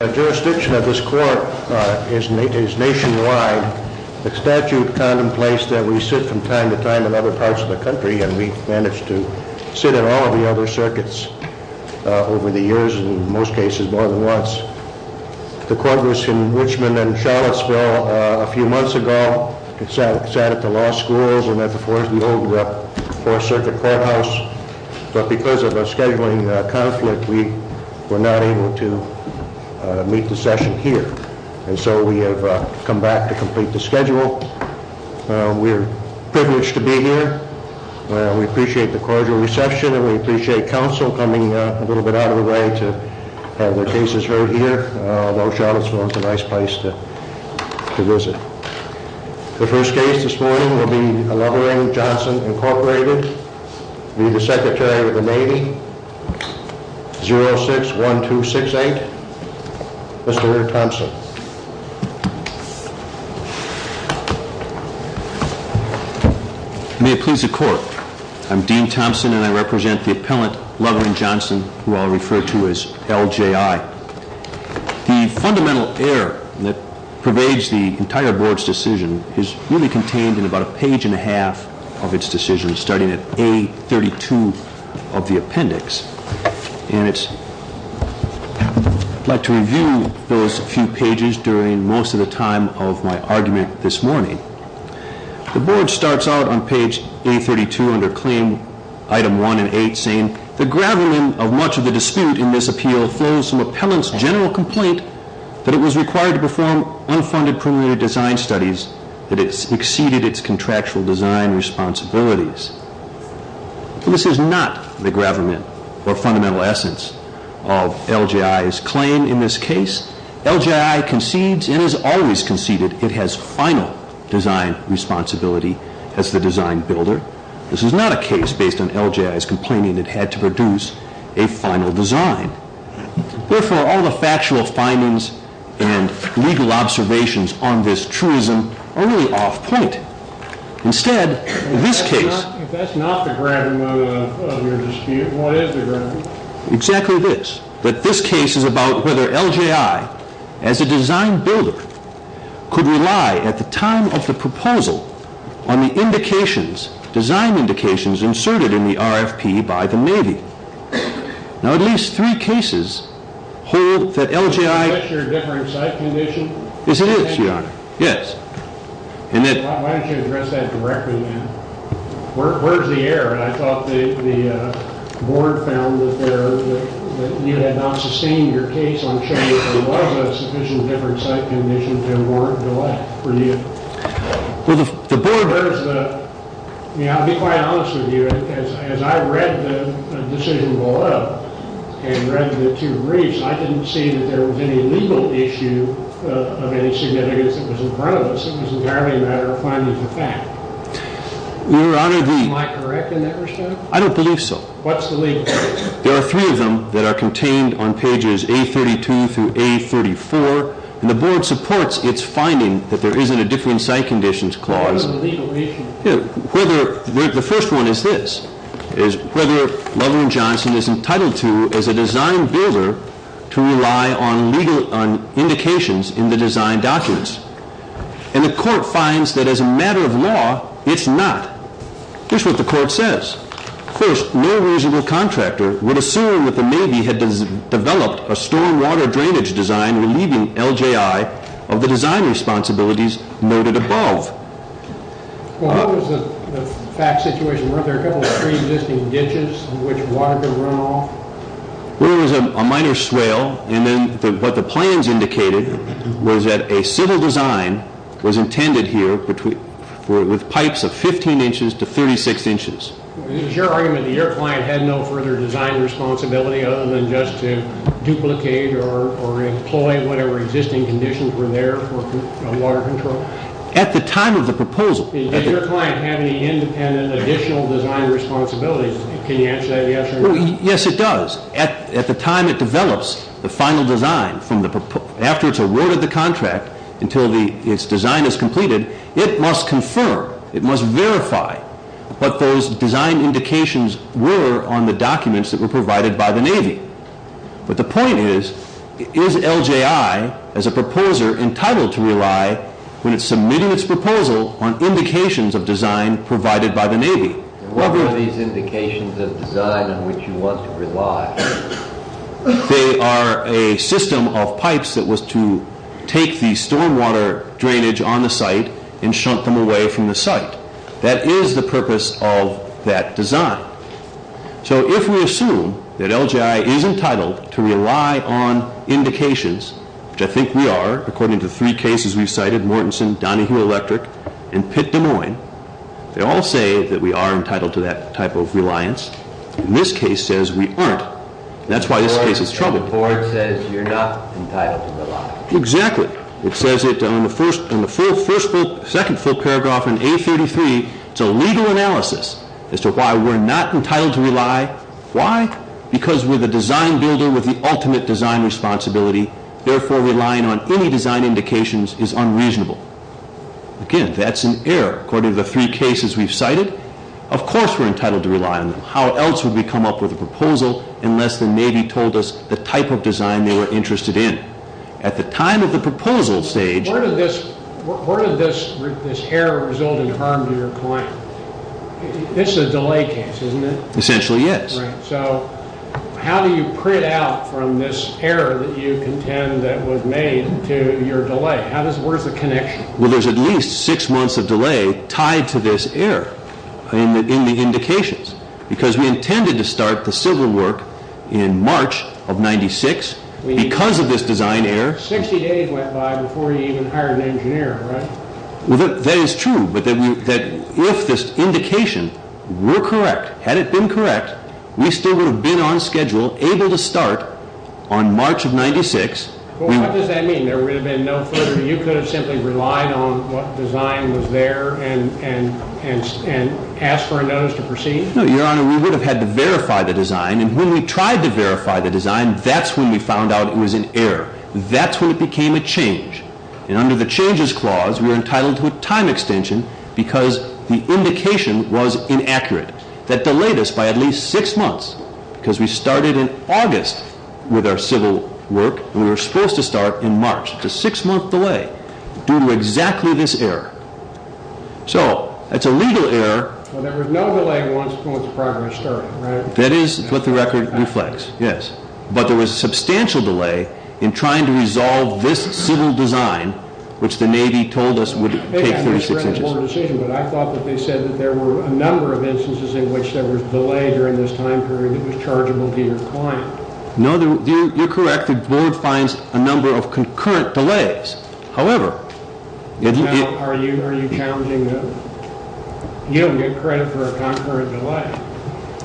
The jurisdiction of this court is nationwide. The statute contemplates that we sit from time to time in other parts of the country, and we've managed to sit in all of the other circuits over the years, in most cases more than once. The court was in Richmond and Charlottesville a few months ago. It sat at the law schools and at the Fourth Circuit Courthouse. But because of a scheduling conflict, we were not able to meet the session here. And so we have come back to complete the schedule. We are privileged to be here. We appreciate the cordial reception, and we appreciate counsel coming a little bit out of the way to have their cases heard here, although Charlottesville is a nice place to visit. The first case this morning will be Lovering-Johnson, Inc. Court rated, be the Secretary of the Navy, 06-1268. Mr. Lear-Thompson. May it please the Court. I'm Dean Thompson, and I represent the appellant Lovering-Johnson, who I'll refer to as LJI. The fundamental error that pervades the entire Board's decision is really contained in about a page and a half of its decision, starting at A32 of the appendix. And I'd like to review those few pages during most of the time of my argument this morning. The Board starts out on page A32 under Claim Item 1 and 8, saying, The gravamen of much of the dispute in this appeal flows from appellant's general complaint that it was required to perform unfunded preliminary design studies that exceeded its contractual design responsibilities. This is not the gravamen or fundamental essence of LJI's claim in this case. LJI concedes and has always conceded it has final design responsibility as the design builder. This is not a case based on LJI's complaining it had to produce a final design. Therefore, all the factual findings and legal observations on this truism are really off point. Instead, in this case— If that's not the gravamen of your dispute, what is the gravamen? Exactly this. But this case is about whether LJI, as a design builder, could rely at the time of the proposal on the design indications inserted in the RFP by the Navy. Now, at least three cases hold that LJI— Is that your differing site condition? Yes, it is, Your Honor. Yes. Why don't you address that directly then? Where's the error? I thought the board found that you had not sustained your case on showing there was a sufficient different site condition to warrant delay for you. Well, the board— I'll be quite honest with you. As I read the decision below and read the two briefs, I didn't see that there was any legal issue of any significance that was in front of us. It was entirely a matter of finding the fact. Your Honor, the— Am I correct in that respect? I don't believe so. What's the legal issue? There are three of them that are contained on pages A32 through A34, and the board supports its finding that there isn't a differing site conditions clause. What is the legal issue? The first one is this, is whether LLJ is entitled to, as a design builder, to rely on legal indications in the design documents. And the court finds that as a matter of law, it's not. Here's what the court says. First, no reasonable contractor would assume that the Navy had developed a stormwater drainage design relieving LJI of the design responsibilities noted above. Well, what was the fact situation? Weren't there a couple of preexisting ditches in which water could run off? Well, there was a minor swale, and then what the plans indicated was that a civil design was intended here with pipes of 15 inches to 36 inches. Is your argument that your client had no further design responsibility other than just to duplicate or employ whatever existing conditions were there for water control? At the time of the proposal— Does your client have any independent additional design responsibilities? Can you answer that yes or no? Yes, it does. At the time it develops the final design, after it's awarded the contract, until its design is completed, it must confirm, it must verify what those design indications were on the documents that were provided by the Navy. But the point is, is LJI, as a proposer, entitled to rely, when it's submitting its proposal, on indications of design provided by the Navy? What were these indications of design on which you want to rely? They are a system of pipes that was to take the stormwater drainage on the site and shunt them away from the site. That is the purpose of that design. So if we assume that LJI is entitled to rely on indications, which I think we are, according to three cases we've cited—Mortenson, Donahue Electric, and Pitt-Des Moines— they all say that we are entitled to that type of reliance. This case says we aren't. That's why this case is troubled. Ford says you're not entitled to rely. Exactly. It says it on the second full paragraph in A33. It's a legal analysis as to why we're not entitled to rely. Why? Because we're the design builder with the ultimate design responsibility. Therefore, relying on any design indications is unreasonable. Again, that's an error. According to the three cases we've cited, of course we're entitled to rely on them. How else would we come up with a proposal unless the Navy told us the type of design they were interested in? At the time of the proposal stage— Where did this error result in harm to your client? This is a delay case, isn't it? Essentially, yes. So how do you print out from this error that you contend that was made to your delay? Where is the connection? Well, there's at least six months of delay tied to this error in the indications because we intended to start the civil work in March of 1996 because of this design error. 60 days went by before you even hired an engineer, right? That is true, but if this indication were correct, had it been correct, we still would have been on schedule, able to start on March of 1996. What does that mean? There would have been no further— You could have simply relied on what design was there and asked for a notice to proceed? No, Your Honor, we would have had to verify the design, and when we tried to verify the design, that's when we found out it was an error. That's when it became a change. And under the changes clause, we're entitled to a time extension because the indication was inaccurate. That delayed us by at least six months because we started in August with our civil work, and we were supposed to start in March. It's a six-month delay due to exactly this error. So that's a legal error. Well, there was no delay once the program started, right? That is what the record reflects, yes. But there was a substantial delay in trying to resolve this civil design, which the Navy told us would take 36 inches. I thought that they said that there were a number of instances in which there was delay during this time period that was chargeable to your client. No, you're correct. The Board finds a number of concurrent delays. However— Now, are you challenging that? You don't get credit for a concurrent delay.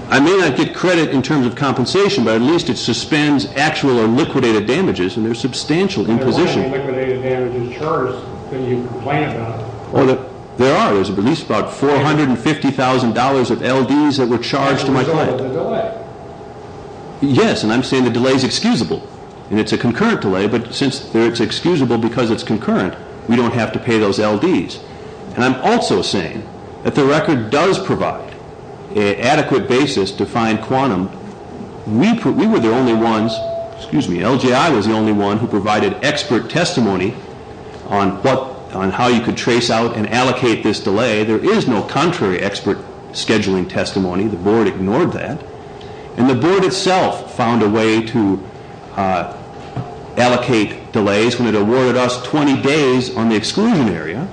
I may not get credit in terms of compensation, but at least it suspends actual or liquidated damages, and there's substantial imposition. There are no liquidated damages charged that you complain about. There are. There's at least about $450,000 of L.D.s that were charged to my client. There's no delay. Yes, and I'm saying the delay is excusable, and it's a concurrent delay, but since it's excusable because it's concurrent, we don't have to pay those L.D.s. And I'm also saying that the record does provide an adequate basis to find quantum. We were the only ones— excuse me, LJI was the only one who provided expert testimony on how you could trace out and allocate this delay. There is no contrary expert scheduling testimony. The Board ignored that. And the Board itself found a way to allocate delays when it awarded us 20 days on the exclusion area.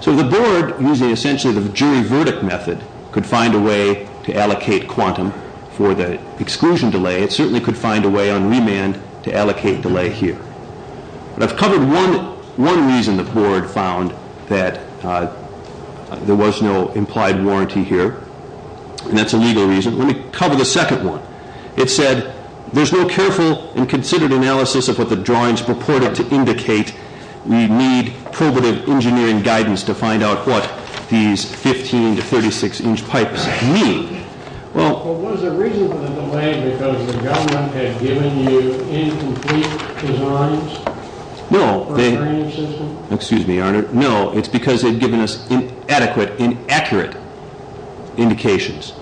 So the Board, using essentially the jury verdict method, could find a way to allocate quantum for the exclusion delay. It certainly could find a way on remand to allocate delay here. I've covered one reason the Board found that there was no implied warranty here, and that's a legal reason. Let me cover the second one. It said there's no careful and considered analysis of what the drawings purported to indicate. We need probative engineering guidance to find out what these 15- to 36-inch pipes mean. Well, what is the reason for the delay? Because the government had given you incomplete designs? No, they— For a drainage system? Excuse me, Arnard. No, it's because they'd given us inadequate, inaccurate indications.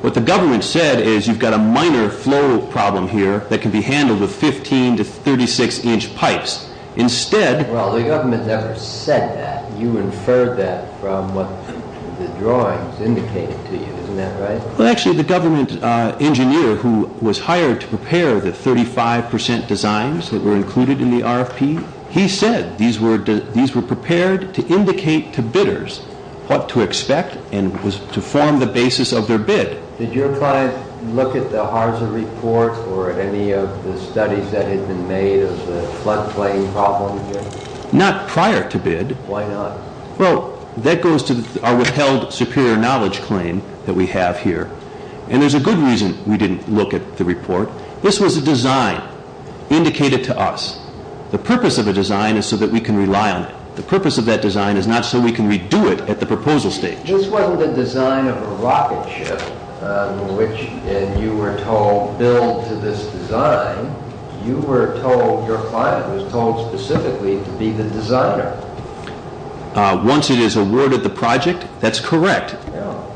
What the government said is you've got a minor flow problem here that can be handled with 15- to 36-inch pipes. Instead— Well, the government never said that. You inferred that from what the drawings indicated to you, isn't that right? Well, actually, the government engineer who was hired to prepare the 35 percent designs that were included in the RFP, he said these were prepared to indicate to bidders what to expect and was to form the basis of their bid. Did your client look at the HARSA report or at any of the studies that had been made of the floodplain problem here? Not prior to bid. Why not? Well, that goes to our withheld superior knowledge claim that we have here. And there's a good reason we didn't look at the report. This was a design indicated to us. The purpose of a design is so that we can rely on it. The purpose of that design is not so we can redo it at the proposal stage. This wasn't a design of a rocket ship, which— and you were told, build to this design. You were told, your client was told specifically to be the designer. Once it is awarded the project, that's correct.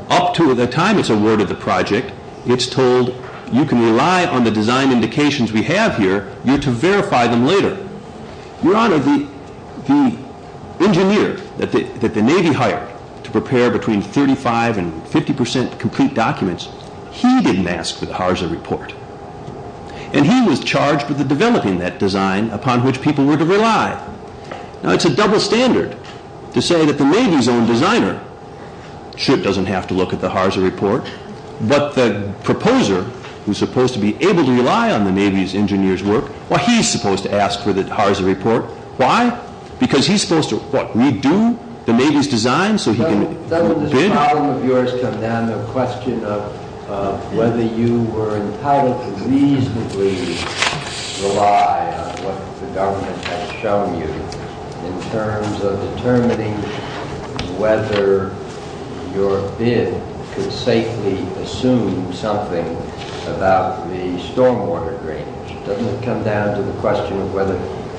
Up to the time it's awarded the project, it's told you can rely on the design indications we have here, you're to verify them later. Your Honor, the engineer that the Navy hired to prepare between 35 and 50 percent complete documents, he didn't ask for the HARSA report. And he was charged with developing that design upon which people were to rely. Now, it's a double standard to say that the Navy's own designer ship doesn't have to look at the HARSA report, but the proposer who's supposed to be able to rely on the Navy's engineer's work, well, he's supposed to ask for the HARSA report. Why? Because he's supposed to, what, redo the Navy's design so he can bid? Doesn't this problem of yours come down to a question of whether you were entitled to reasonably rely on what the government has shown you in terms of determining whether your bid could safely assume something about the stormwater drainage? Doesn't it come down to the question of whether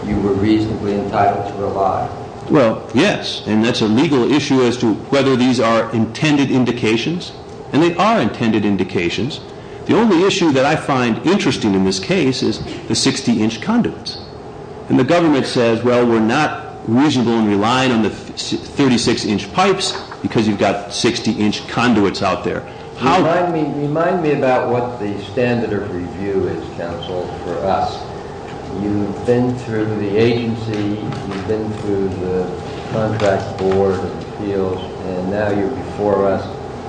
you were reasonably entitled to rely? Well, yes. And that's a legal issue as to whether these are intended indications. And they are intended indications. The only issue that I find interesting in this case is the 60-inch conduits. And the government says, well, we're not reasonably relying on the 36-inch pipes because you've got 60-inch conduits out there. Remind me about what the standard of review is, counsel, for us. You've been through the agency. You've been through the contract board and appeals. And now you're before us.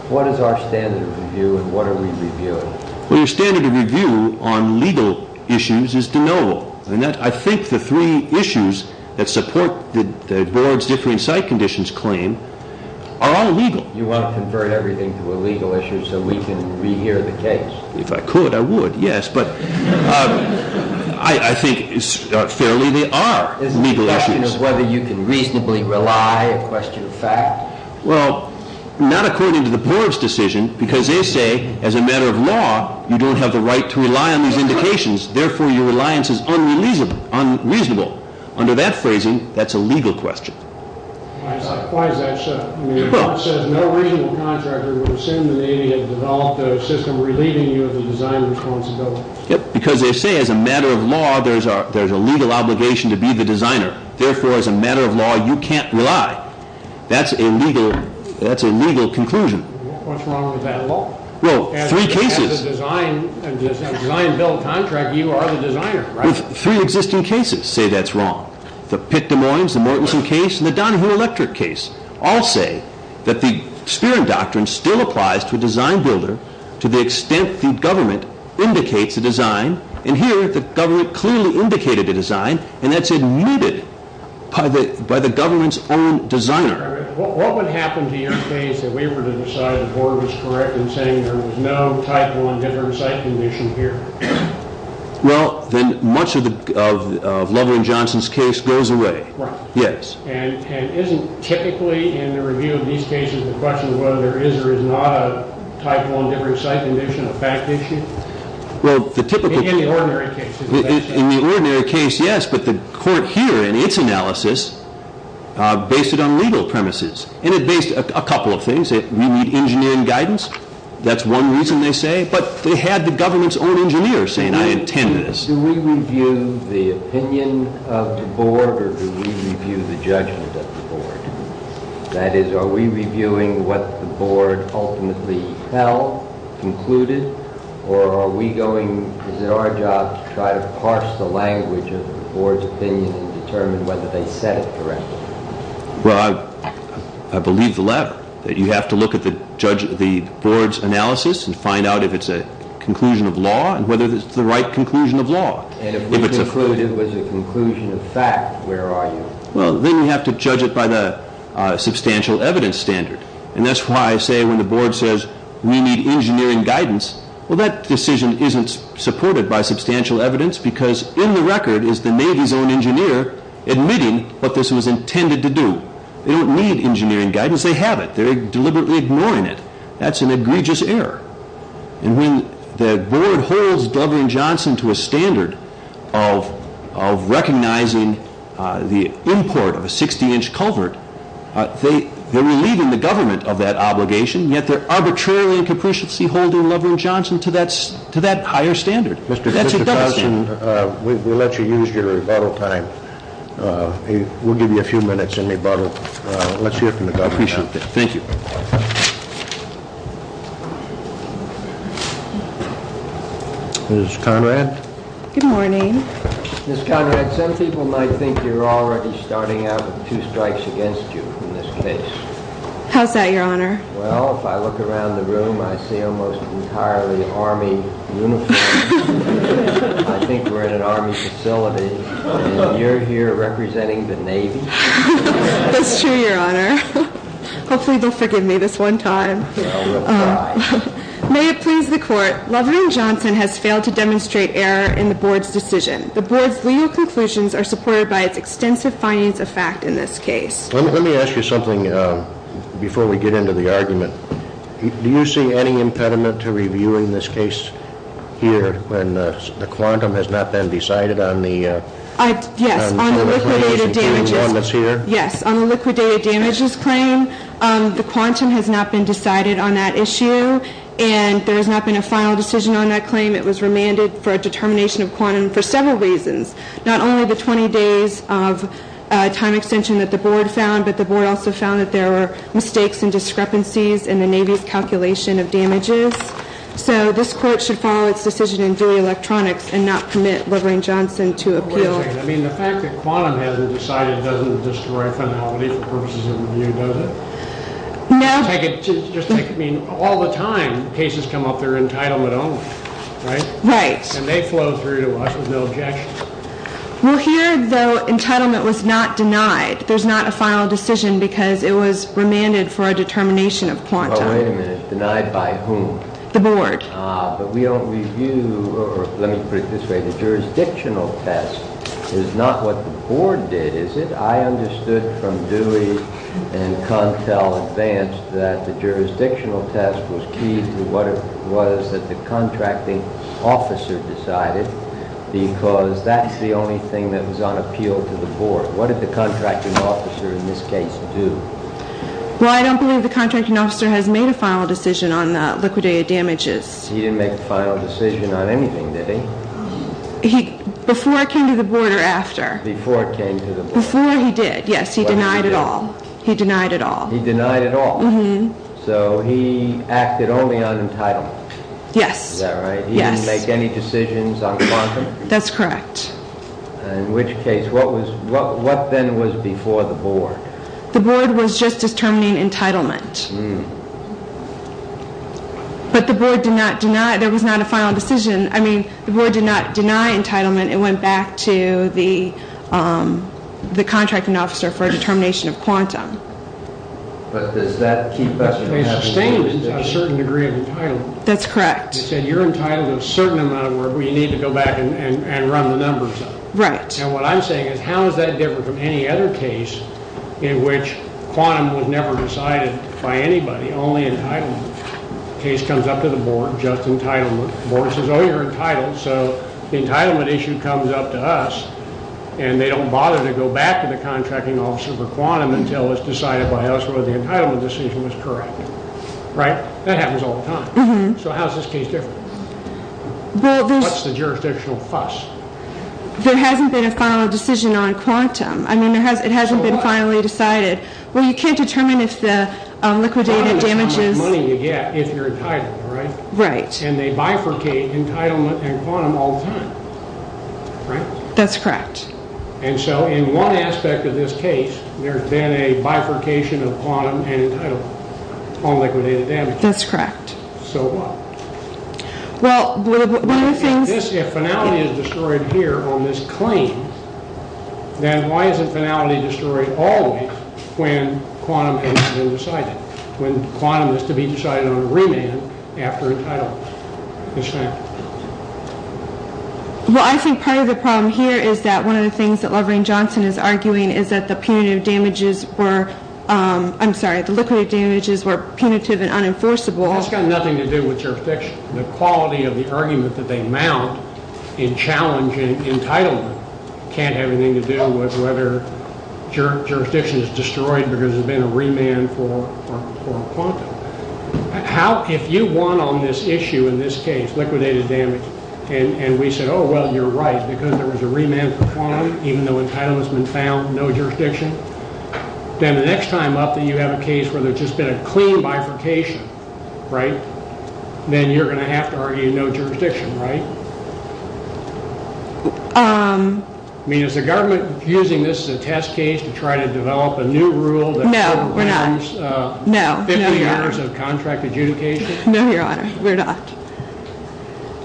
What is our standard of review and what are we reviewing? Well, your standard of review on legal issues is de novo. I think the three issues that support the board's differing site conditions claim are all legal. You want to convert everything to a legal issue so we can rehear the case. If I could, I would, yes. But I think fairly they are legal issues. It's a question of whether you can reasonably rely, a question of fact. Well, not according to the board's decision because they say as a matter of law, you don't have the right to rely on these indications. Therefore, your reliance is unreasonable. Under that phrasing, that's a legal question. Why is that so? The board says no reasonable contractor would assume the Navy had developed a system relieving you of the design responsibility. Because they say as a matter of law, there's a legal obligation to be the designer. Therefore, as a matter of law, you can't rely. That's a legal conclusion. What's wrong with that law? Well, three cases. As a design bill contract, you are the designer, right? Three existing cases say that's wrong. The Pitt-Des Moines, the Mortenson case, and the Donahue-Electric case all say that the Spearing Doctrine still applies to a design builder to the extent the government indicates a design. And here, the government clearly indicated a design. And that's omitted by the government's own designer. What would happen to your case if we were to decide the board was correct in saying there was no typo in different site condition here? Well, then much of Loveland-Johnson's case goes away. Right. Yes. And isn't typically, in the review of these cases, the question of whether there is or is not a typo in different site condition a fact issue? Well, the typical... In the ordinary case. In the ordinary case, yes. But the court here, in its analysis, based it on legal premises. And it based a couple of things. We need engineering guidance. That's one reason they say. But they had the government's own engineer saying, I intend this. Do we review the opinion of the board, or do we review the judgment of the board? That is, are we reviewing what the board ultimately held, concluded? Or are we going, is it our job to try to parse the language of the board's opinion and determine whether they said it correctly? Well, I believe the latter, that you have to look at the board's analysis and find out if it's a conclusion of law and whether it's the right conclusion of law. And if we conclude it was a conclusion of fact, where are you? Well, then you have to judge it by the substantial evidence standard. And that's why I say when the board says, we need engineering guidance, well, that decision isn't supported by substantial evidence because in the record is the Navy's own engineer admitting what this was intended to do. They don't need engineering guidance. They have it. They're deliberately ignoring it. That's an egregious error. And when the board holds Leveran-Johnson to a standard of recognizing the import of a 60-inch culvert, they're relieving the government of that obligation, yet they're arbitrarily and capriciously holding Leveran-Johnson to that higher standard. Mr. Johnson, we'll let you use your rebuttal time. We'll give you a few minutes in rebuttal. Let's hear from the government. I appreciate that. Thank you. Ms. Conrad? Good morning. Ms. Conrad, some people might think you're already starting out with two strikes against you in this case. How's that, Your Honor? Well, if I look around the room, I see almost entirely Army uniforms. I think we're in an Army facility, and you're here representing the Navy. That's true, Your Honor. Hopefully they'll forgive me this one time. Well, we'll try. May it please the Court, Leveran-Johnson has failed to demonstrate error in the board's decision. The board's legal conclusions are supported by its extensive findings of fact in this case. Let me ask you something before we get into the argument. Do you see any impediment to reviewing this case here when the quantum has not been decided on the liquidated damages claim? Yes. On the liquidated damages claim, the quantum has not been decided on that issue, and there has not been a final decision on that claim. It was remanded for a determination of quantum for several reasons, not only the 20 days of time extension that the board found, but the board also found that there were mistakes and discrepancies in the Navy's calculation of damages. So this Court should follow its decision in Dewey Electronics and not permit Leveran-Johnson to appeal. Wait a second. I mean, the fact that quantum hasn't decided doesn't destroy finality for purposes of review, does it? No. I mean, all the time cases come up, they're entitlement only, right? Right. And they flow through to us with no objection. Well, here, though, entitlement was not denied. There's not a final decision because it was remanded for a determination of quantum. Oh, wait a minute. Denied by whom? The board. Ah, but we don't review, or let me put it this way. The jurisdictional test is not what the board did, is it? I understood from Dewey and Contell Advanced that the jurisdictional test was key to what it was that the contracting officer decided because that's the only thing that was on appeal to the board. What did the contracting officer in this case do? Well, I don't believe the contracting officer has made a final decision on liquidated damages. He didn't make a final decision on anything, did he? Before it came to the board or after? Before it came to the board. Before he did, yes. He denied it all. He denied it all. He denied it all? Mm-hmm. So he acted only on entitlement? Yes. Is that right? Yes. He didn't make any decisions on quantum? That's correct. In which case, what then was before the board? The board was just determining entitlement. But the board did not deny. There was not a final decision. I mean, the board did not deny entitlement. It went back to the contracting officer for a determination of quantum. But does that keep us from having one? In this case, abstainment is a certain degree of entitlement. That's correct. It said you're entitled to a certain amount of work, but you need to go back and run the numbers up. Right. And what I'm saying is how does that differ from any other case in which quantum was never decided by anybody, only entitlement? The case comes up to the board, just entitlement. The board says, oh, you're entitled. So the entitlement issue comes up to us, and they don't bother to go back to the contracting officer for quantum until it's decided by us whether the entitlement decision was correct. Right? That happens all the time. So how is this case different? What's the jurisdictional fuss? There hasn't been a final decision on quantum. I mean, it hasn't been finally decided. Well, you can't determine if the liquidated damages. Quantum is how much money you get if you're entitled, right? Right. And they bifurcate entitlement and quantum all the time. Right? That's correct. And so in one aspect of this case, there's been a bifurcation of quantum and entitlement on liquidated damages. That's correct. So what? Well, one of the things — If finality is destroyed here on this claim, then why isn't finality destroyed always when quantum hasn't been decided, when quantum is to be decided on remand after entitlement? Yes, ma'am. Well, I think part of the problem here is that one of the things that Laverne Johnson is arguing is that the punitive damages were — I'm sorry, the liquidated damages were punitive and unenforceable. That's got nothing to do with jurisdiction. The quality of the argument that they mount in challenging entitlement can't have anything to do with whether jurisdiction is destroyed because there's been a remand for quantum. How — if you won on this issue in this case, liquidated damage, and we said, oh, well, you're right because there was a remand for quantum even though entitlement's been found, no jurisdiction, then the next time up that you have a case where there's just been a clean bifurcation, right, then you're going to have to argue no jurisdiction, right? I mean, is the government using this as a test case to try to develop a new rule that — No, we're not. — gives 50 years of contract adjudication? No, Your Honor, we're not.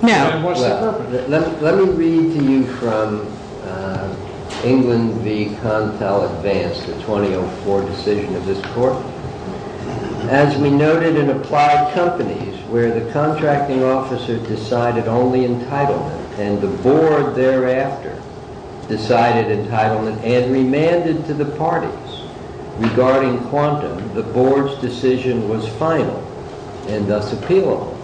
No. And what's the purpose? Let me read to you from England v. Contel Advance, the 2004 decision of this court. As we noted in applied companies where the contracting officer decided only entitlement and the board thereafter decided entitlement and remanded to the parties regarding quantum, the board's decision was final and thus appealable.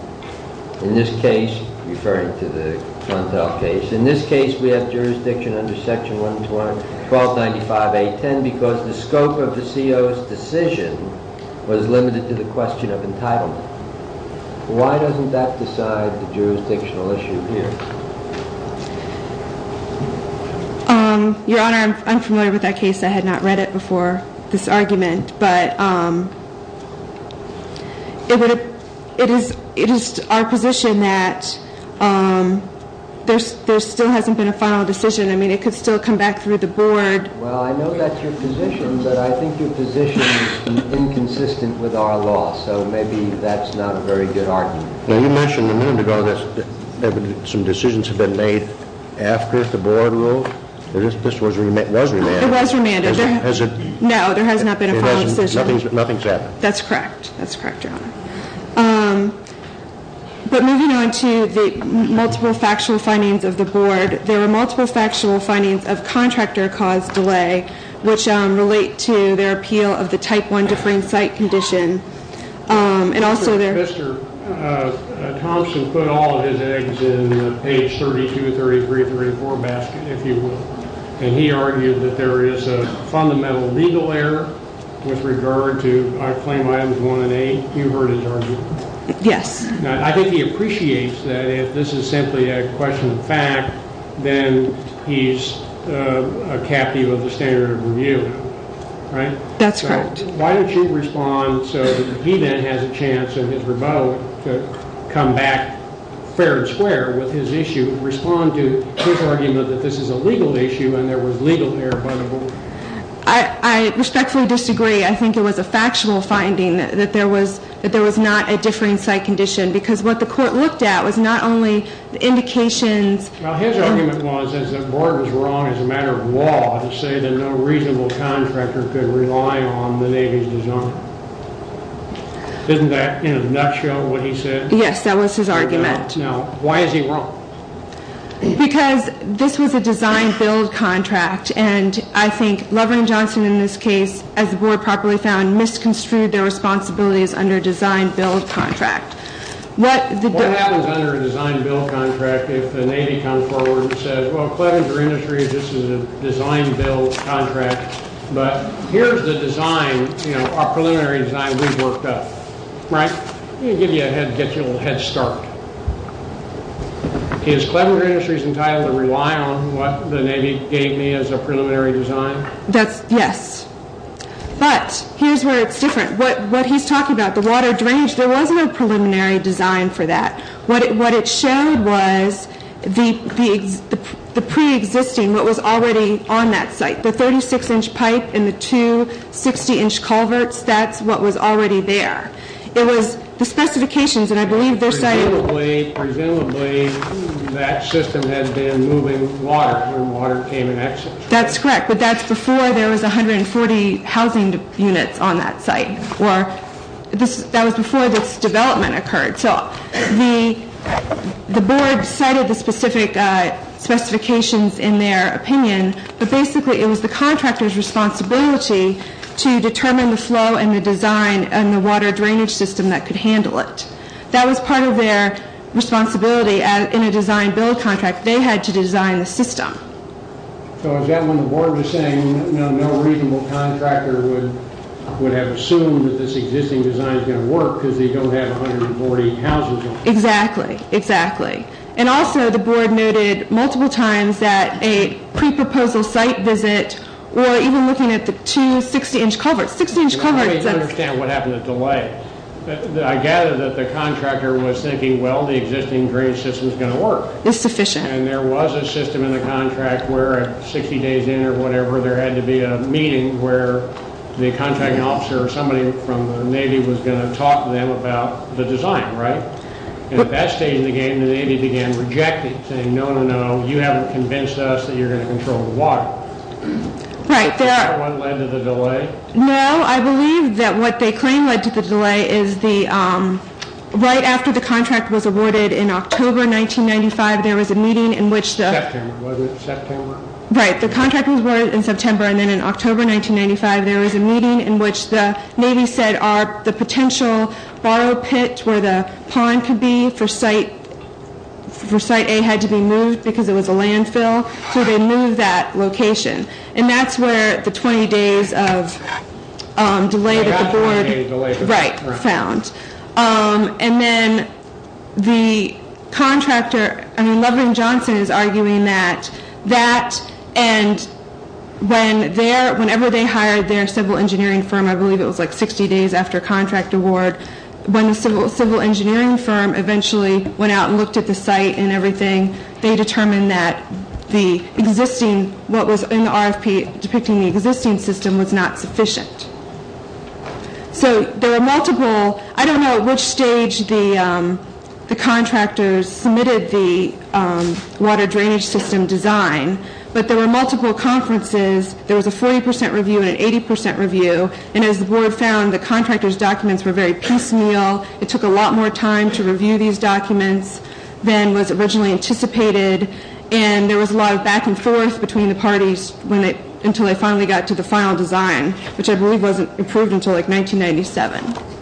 In this case, referring to the Contel case, in this case we have jurisdiction under Section 11295A.10 because the scope of the CO's decision was limited to the question of entitlement. Why doesn't that decide the jurisdictional issue here? Your Honor, I'm familiar with that case. I had not read it before, this argument. But it is our position that there still hasn't been a final decision. I mean, it could still come back through the board. Well, I know that's your position, but I think your position is inconsistent with our law, so maybe that's not a very good argument. Now, you mentioned a minute ago that some decisions have been made after the board ruled that this was remanded. It was remanded. Has it? No, there has not been a final decision. Nothing's happened. That's correct. That's correct, Your Honor. But moving on to the multiple factual findings of the board, there were multiple factual findings of contractor-caused delay which relate to their appeal of the Type I differing site condition. Mr. Kvister, Thompson put all of his eggs in the page 32, 33, 34 basket, if you will. And he argued that there is a fundamental legal error with regard to claim items 1 and 8. You heard his argument. Yes. I think he appreciates that if this is simply a question of fact, then he's a captive of the standard of review, right? That's correct. Why don't you respond so that he then has a chance in his rebuttal to come back fair and square with his issue? Respond to his argument that this is a legal issue and there was legal error by the board. I respectfully disagree. I think it was a factual finding that there was not a differing site condition because what the court looked at was not only indications. Well, his argument was that the board was wrong as a matter of law to say that no reasonable contractor could rely on the Navy's design. Isn't that in a nutshell what he said? Yes, that was his argument. Now, why is he wrong? Because this was a design-build contract. And I think Levering and Johnson, in this case, as the board properly found, misconstrued their responsibilities under a design-build contract. What happens under a design-build contract if the Navy comes forward and says, well, Clevenger Industries, this is a design-build contract, but here's the design, you know, our preliminary design we've worked up, right? It'll give you a head, get you a little head start. Is Clevenger Industries entitled to rely on what the Navy gave me as a preliminary design? That's, yes. But here's where it's different. What he's talking about, the water drainage, there wasn't a preliminary design for that. What it showed was the preexisting, what was already on that site, the 36-inch pipe and the two 60-inch culverts. That's what was already there. It was the specifications, and I believe they're saying- Presumably, that system had been moving water when water came and exited. That's correct, but that's before there was 140 housing units on that site, or that was before this development occurred. So the board cited the specific specifications in their opinion, but basically it was the contractor's responsibility to determine the flow and the design and the water drainage system that could handle it. That was part of their responsibility in a design-build contract. They had to design the system. So is that when the board was saying no reasonable contractor would have assumed that this existing design was going to work because they don't have 140 houses on it? Exactly, exactly. And also, the board noted multiple times that a pre-proposal site visit, or even looking at the two 60-inch culverts, 60-inch culverts- Let me understand what happened to delay. I gather that the contractor was thinking, well, the existing drainage system is going to work. It's sufficient. And there was a system in the contract where 60 days in or whatever, there had to be a meeting where the contracting officer or somebody from the Navy was going to talk to them about the design, right? At that stage in the game, the Navy began rejecting, saying no, no, no, you haven't convinced us that you're going to control the water. Right. That one led to the delay? No, I believe that what they claim led to the delay is the- Was it September? Right. The contract was ordered in September, and then in October 1995, there was a meeting in which the Navy said the potential borrow pit where the pond could be for site A had to be moved because it was a landfill. So they moved that location. And that's where the 20 days of delay that the board- Right. Found. And then the contractor, I mean, Levering Johnson is arguing that that and when they're, whenever they hired their civil engineering firm, I believe it was like 60 days after contract award, when the civil engineering firm eventually went out and looked at the site and everything, they determined that the existing, what was in the RFP depicting the existing system was not sufficient. So there were multiple, I don't know which stage the contractors submitted the water drainage system design, but there were multiple conferences. There was a 40% review and an 80% review. And as the board found, the contractor's documents were very piecemeal. It took a lot more time to review these documents than was originally anticipated. And there was a lot of back and forth between the parties when they, until they finally got to the final design, which I believe wasn't approved until like 1997.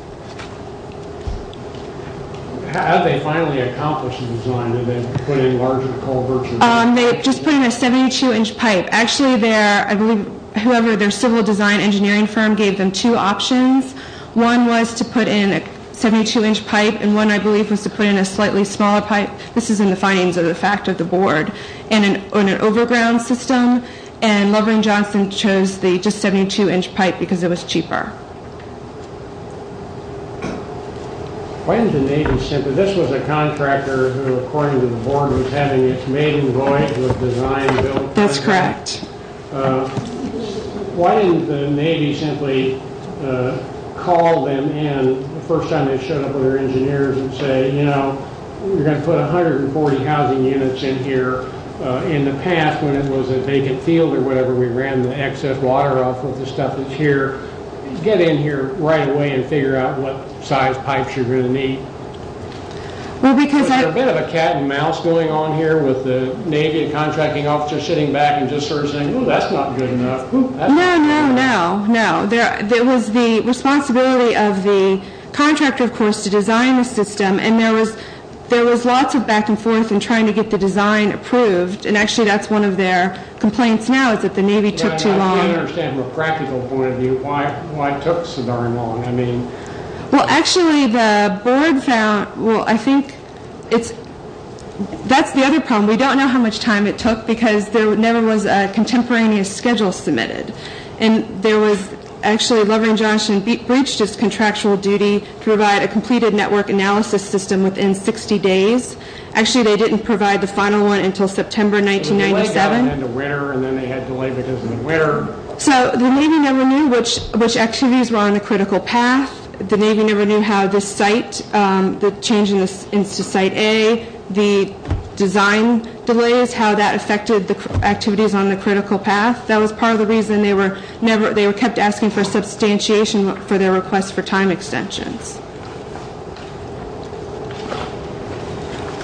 How did they finally accomplish the design? Did they put in larger culverts? They just put in a 72-inch pipe. Actually, their, I believe, whoever their civil design engineering firm gave them two options. One was to put in a 72-inch pipe, and one, I believe, was to put in a slightly smaller pipe. This is in the findings of the fact of the board. And an overground system, and Lovering-Johnson chose the just 72-inch pipe because it was cheaper. Why didn't the Navy simply, this was a contractor who, according to the board, was having its maiden voyage with design built. That's correct. Why didn't the Navy simply call them in the first time they showed up with their engineers and say, you know, we're going to put 140 housing units in here. In the past, when it was a vacant field or whatever, we ran the excess water off of the stuff that's here. Get in here right away and figure out what size pipes you're going to need. There's a bit of a cat and mouse going on here with the Navy contracting officer sitting back and just sort of saying, oh, that's not good enough. No, no, no, no. It was the responsibility of the contractor, of course, to design the system. And there was lots of back and forth in trying to get the design approved. And actually, that's one of their complaints now is that the Navy took too long. I can't understand from a practical point of view why it took so darn long. Well, actually, the board found, well, I think it's, that's the other problem. We don't know how much time it took because there never was a contemporaneous schedule submitted. And there was, actually, Lovering-Johnson breached its contractual duty to provide a completed network analysis system within 60 days. Actually, they didn't provide the final one until September 1997. The delay got them into winter, and then they had delay because of the winter. So the Navy never knew which activities were on the critical path. The Navy never knew how this site, the change to site A, the design delays, how that affected the activities on the critical path. That was part of the reason they were kept asking for substantiation for their request for time extensions.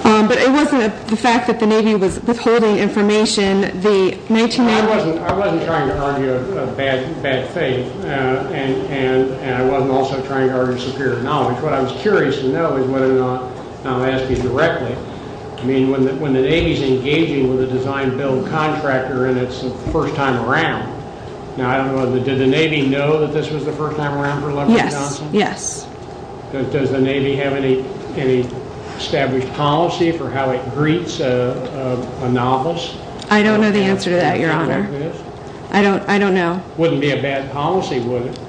But it wasn't the fact that the Navy was withholding information. I wasn't trying to argue a bad faith, and I wasn't also trying to argue superior knowledge. What I was curious to know is whether or not, and I'll ask you directly, I mean, when the Navy's engaging with a design-build contractor and it's the first time around, now, I don't know, did the Navy know that this was the first time around for Lovering-Johnson? Yes, yes. Does the Navy have any established policy for how it greets a novice? I don't know the answer to that, Your Honor. I don't know. It wouldn't be a bad policy, would it?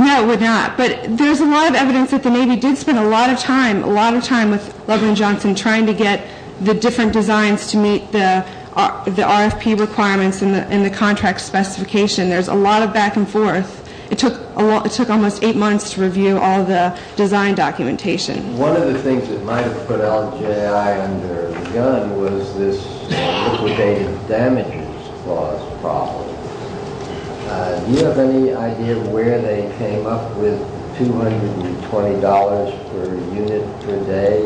No, it would not. But there's a lot of evidence that the Navy did spend a lot of time, a lot of time with Lovering-Johnson trying to get the different designs to meet the RFP requirements and the contract specification. There's a lot of back and forth. It took almost eight months to review all the design documentation. One of the things that might have put LJI under the gun was this liquidated damages clause problem. Do you have any idea where they came up with $220 per unit per day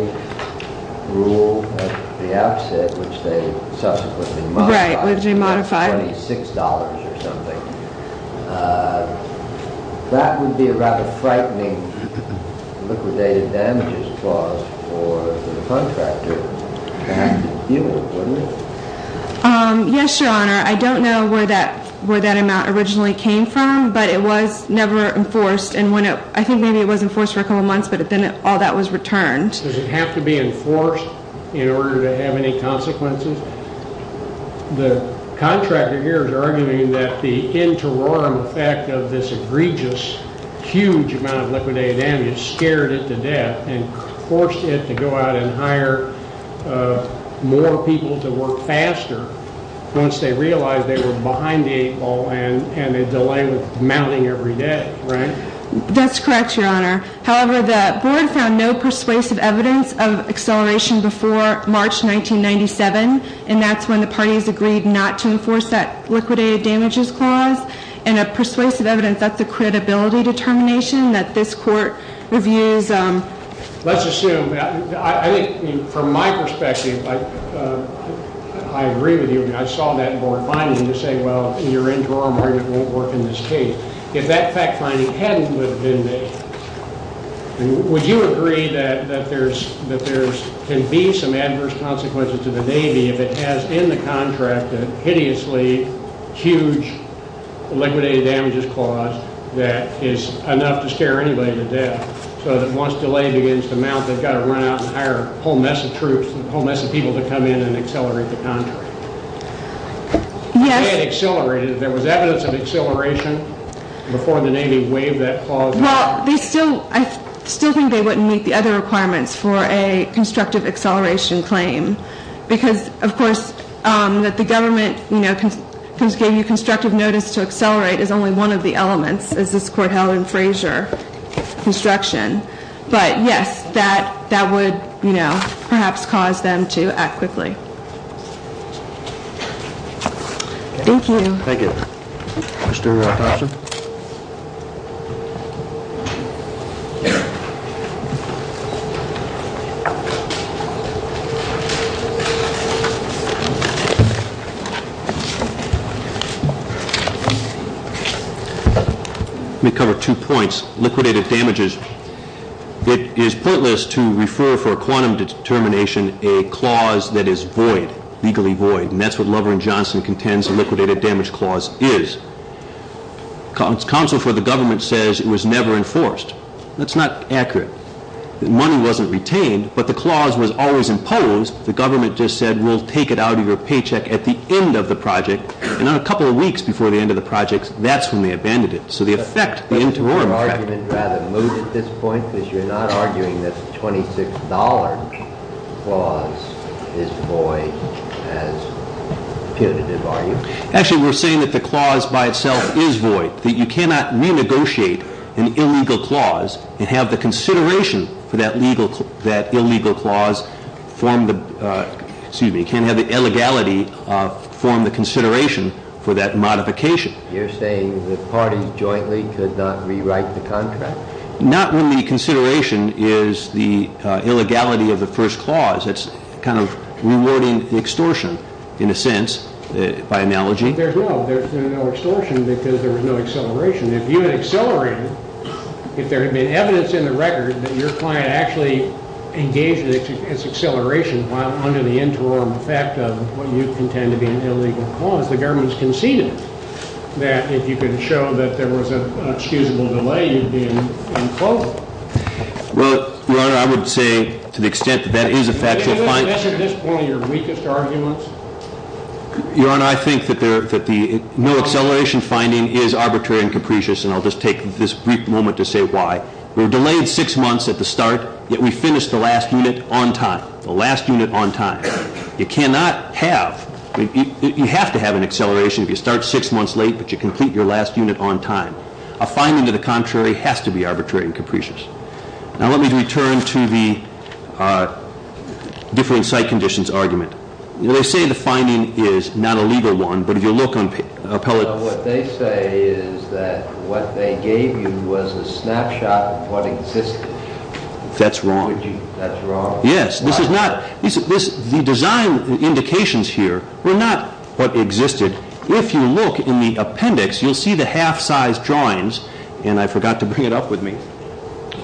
rule at the outset, which they subsequently modified to $26 or something? That would be a rather frightening liquidated damages clause for the contractor. It would, wouldn't it? Yes, Your Honor. I don't know where that amount originally came from, but it was never enforced. I think maybe it was enforced for a couple months, but then all that was returned. Does it have to be enforced in order to have any consequences? The contractor here is arguing that the interim effect of this egregious, huge amount of liquidated damages scared it to death and forced it to go out and hire more people to work faster once they realized they were behind the eight ball and a delay with mounting every day, right? That's correct, Your Honor. However, the board found no persuasive evidence of acceleration before March 1997, and that's when the parties agreed not to enforce that liquidated damages clause. And a persuasive evidence, that's a credibility determination that this court reviews. Let's assume, I think from my perspective, I agree with you. I saw that board finding to say, well, your interim argument won't work in this case. If that fact finding hadn't been made, would you agree that there can be some adverse consequences to the Navy if it has in the contract a hideously huge liquidated damages clause that is enough to scare anybody to death so that once delayed begins to mount, they've got to run out and hire a whole mess of troops, a whole mess of people to come in and accelerate the contract? Yes. If they had accelerated, if there was evidence of acceleration before the Navy waived that clause? Well, I still think they wouldn't meet the other requirements for a constructive acceleration claim because, of course, that the government gave you constructive notice to accelerate is only one of the elements, as this court held in Frazier construction. But, yes, that would, you know, perhaps cause them to act quickly. Thank you. Thank you. Mr. Thompson? Let me cover two points. Liquidated damages, it is pointless to refer for a quantum determination a clause that is void, legally void, and that's what Lover and Johnson contends a liquidated damage clause is. Counsel for the government says it was never enforced. That's not accurate. The money wasn't retained, but the clause was always imposed. The government just said, we'll take it out of your paycheck at the end of the project, and not a couple of weeks before the end of the project, that's when they abandoned it. Would your argument rather move at this point because you're not arguing that the $26 clause is void as punitive argument? Actually, we're saying that the clause by itself is void, that you cannot renegotiate an illegal clause and have the consideration for that illegal clause form the, excuse me, can't have the illegality form the consideration for that modification. You're saying the parties jointly could not rewrite the contract? Not when the consideration is the illegality of the first clause. It's kind of rewording the extortion, in a sense, by analogy. There's no extortion because there was no acceleration. If you had accelerated, if there had been evidence in the record that your client actually engaged in its acceleration under the interim effect of what you contend to be an illegal clause, the government has conceded it. That if you could show that there was an excusable delay, you'd be in clover. Well, Your Honor, I would say to the extent that that is a factual finding- Is this, at this point, your weakest arguments? Your Honor, I think that the no-acceleration finding is arbitrary and capricious, and I'll just take this brief moment to say why. We were delayed six months at the start, yet we finished the last unit on time, the last unit on time. You cannot have- you have to have an acceleration if you start six months late, but you complete your last unit on time. A finding to the contrary has to be arbitrary and capricious. Now, let me return to the differing site conditions argument. They say the finding is not a legal one, but if you look on- What they say is that what they gave you was a snapshot of what existed. That's wrong. That's wrong. Yes, this is not- the design indications here were not what existed. If you look in the appendix, you'll see the half-sized drawings, and I forgot to bring it up with me.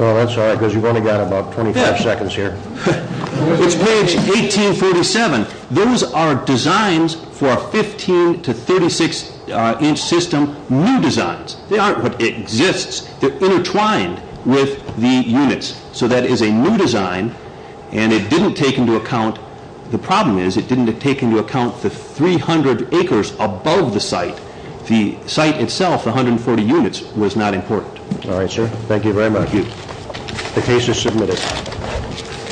Oh, that's all right, because you've only got about 25 seconds here. It's page 1847. Those are designs for a 15- to 36-inch system, new designs. They aren't what exists. They're intertwined with the units. So that is a new design, and it didn't take into account- the problem is it didn't take into account the 300 acres above the site. The site itself, the 140 units, was not important. All right, sir. Thank you very much. Thank you. The case is submitted.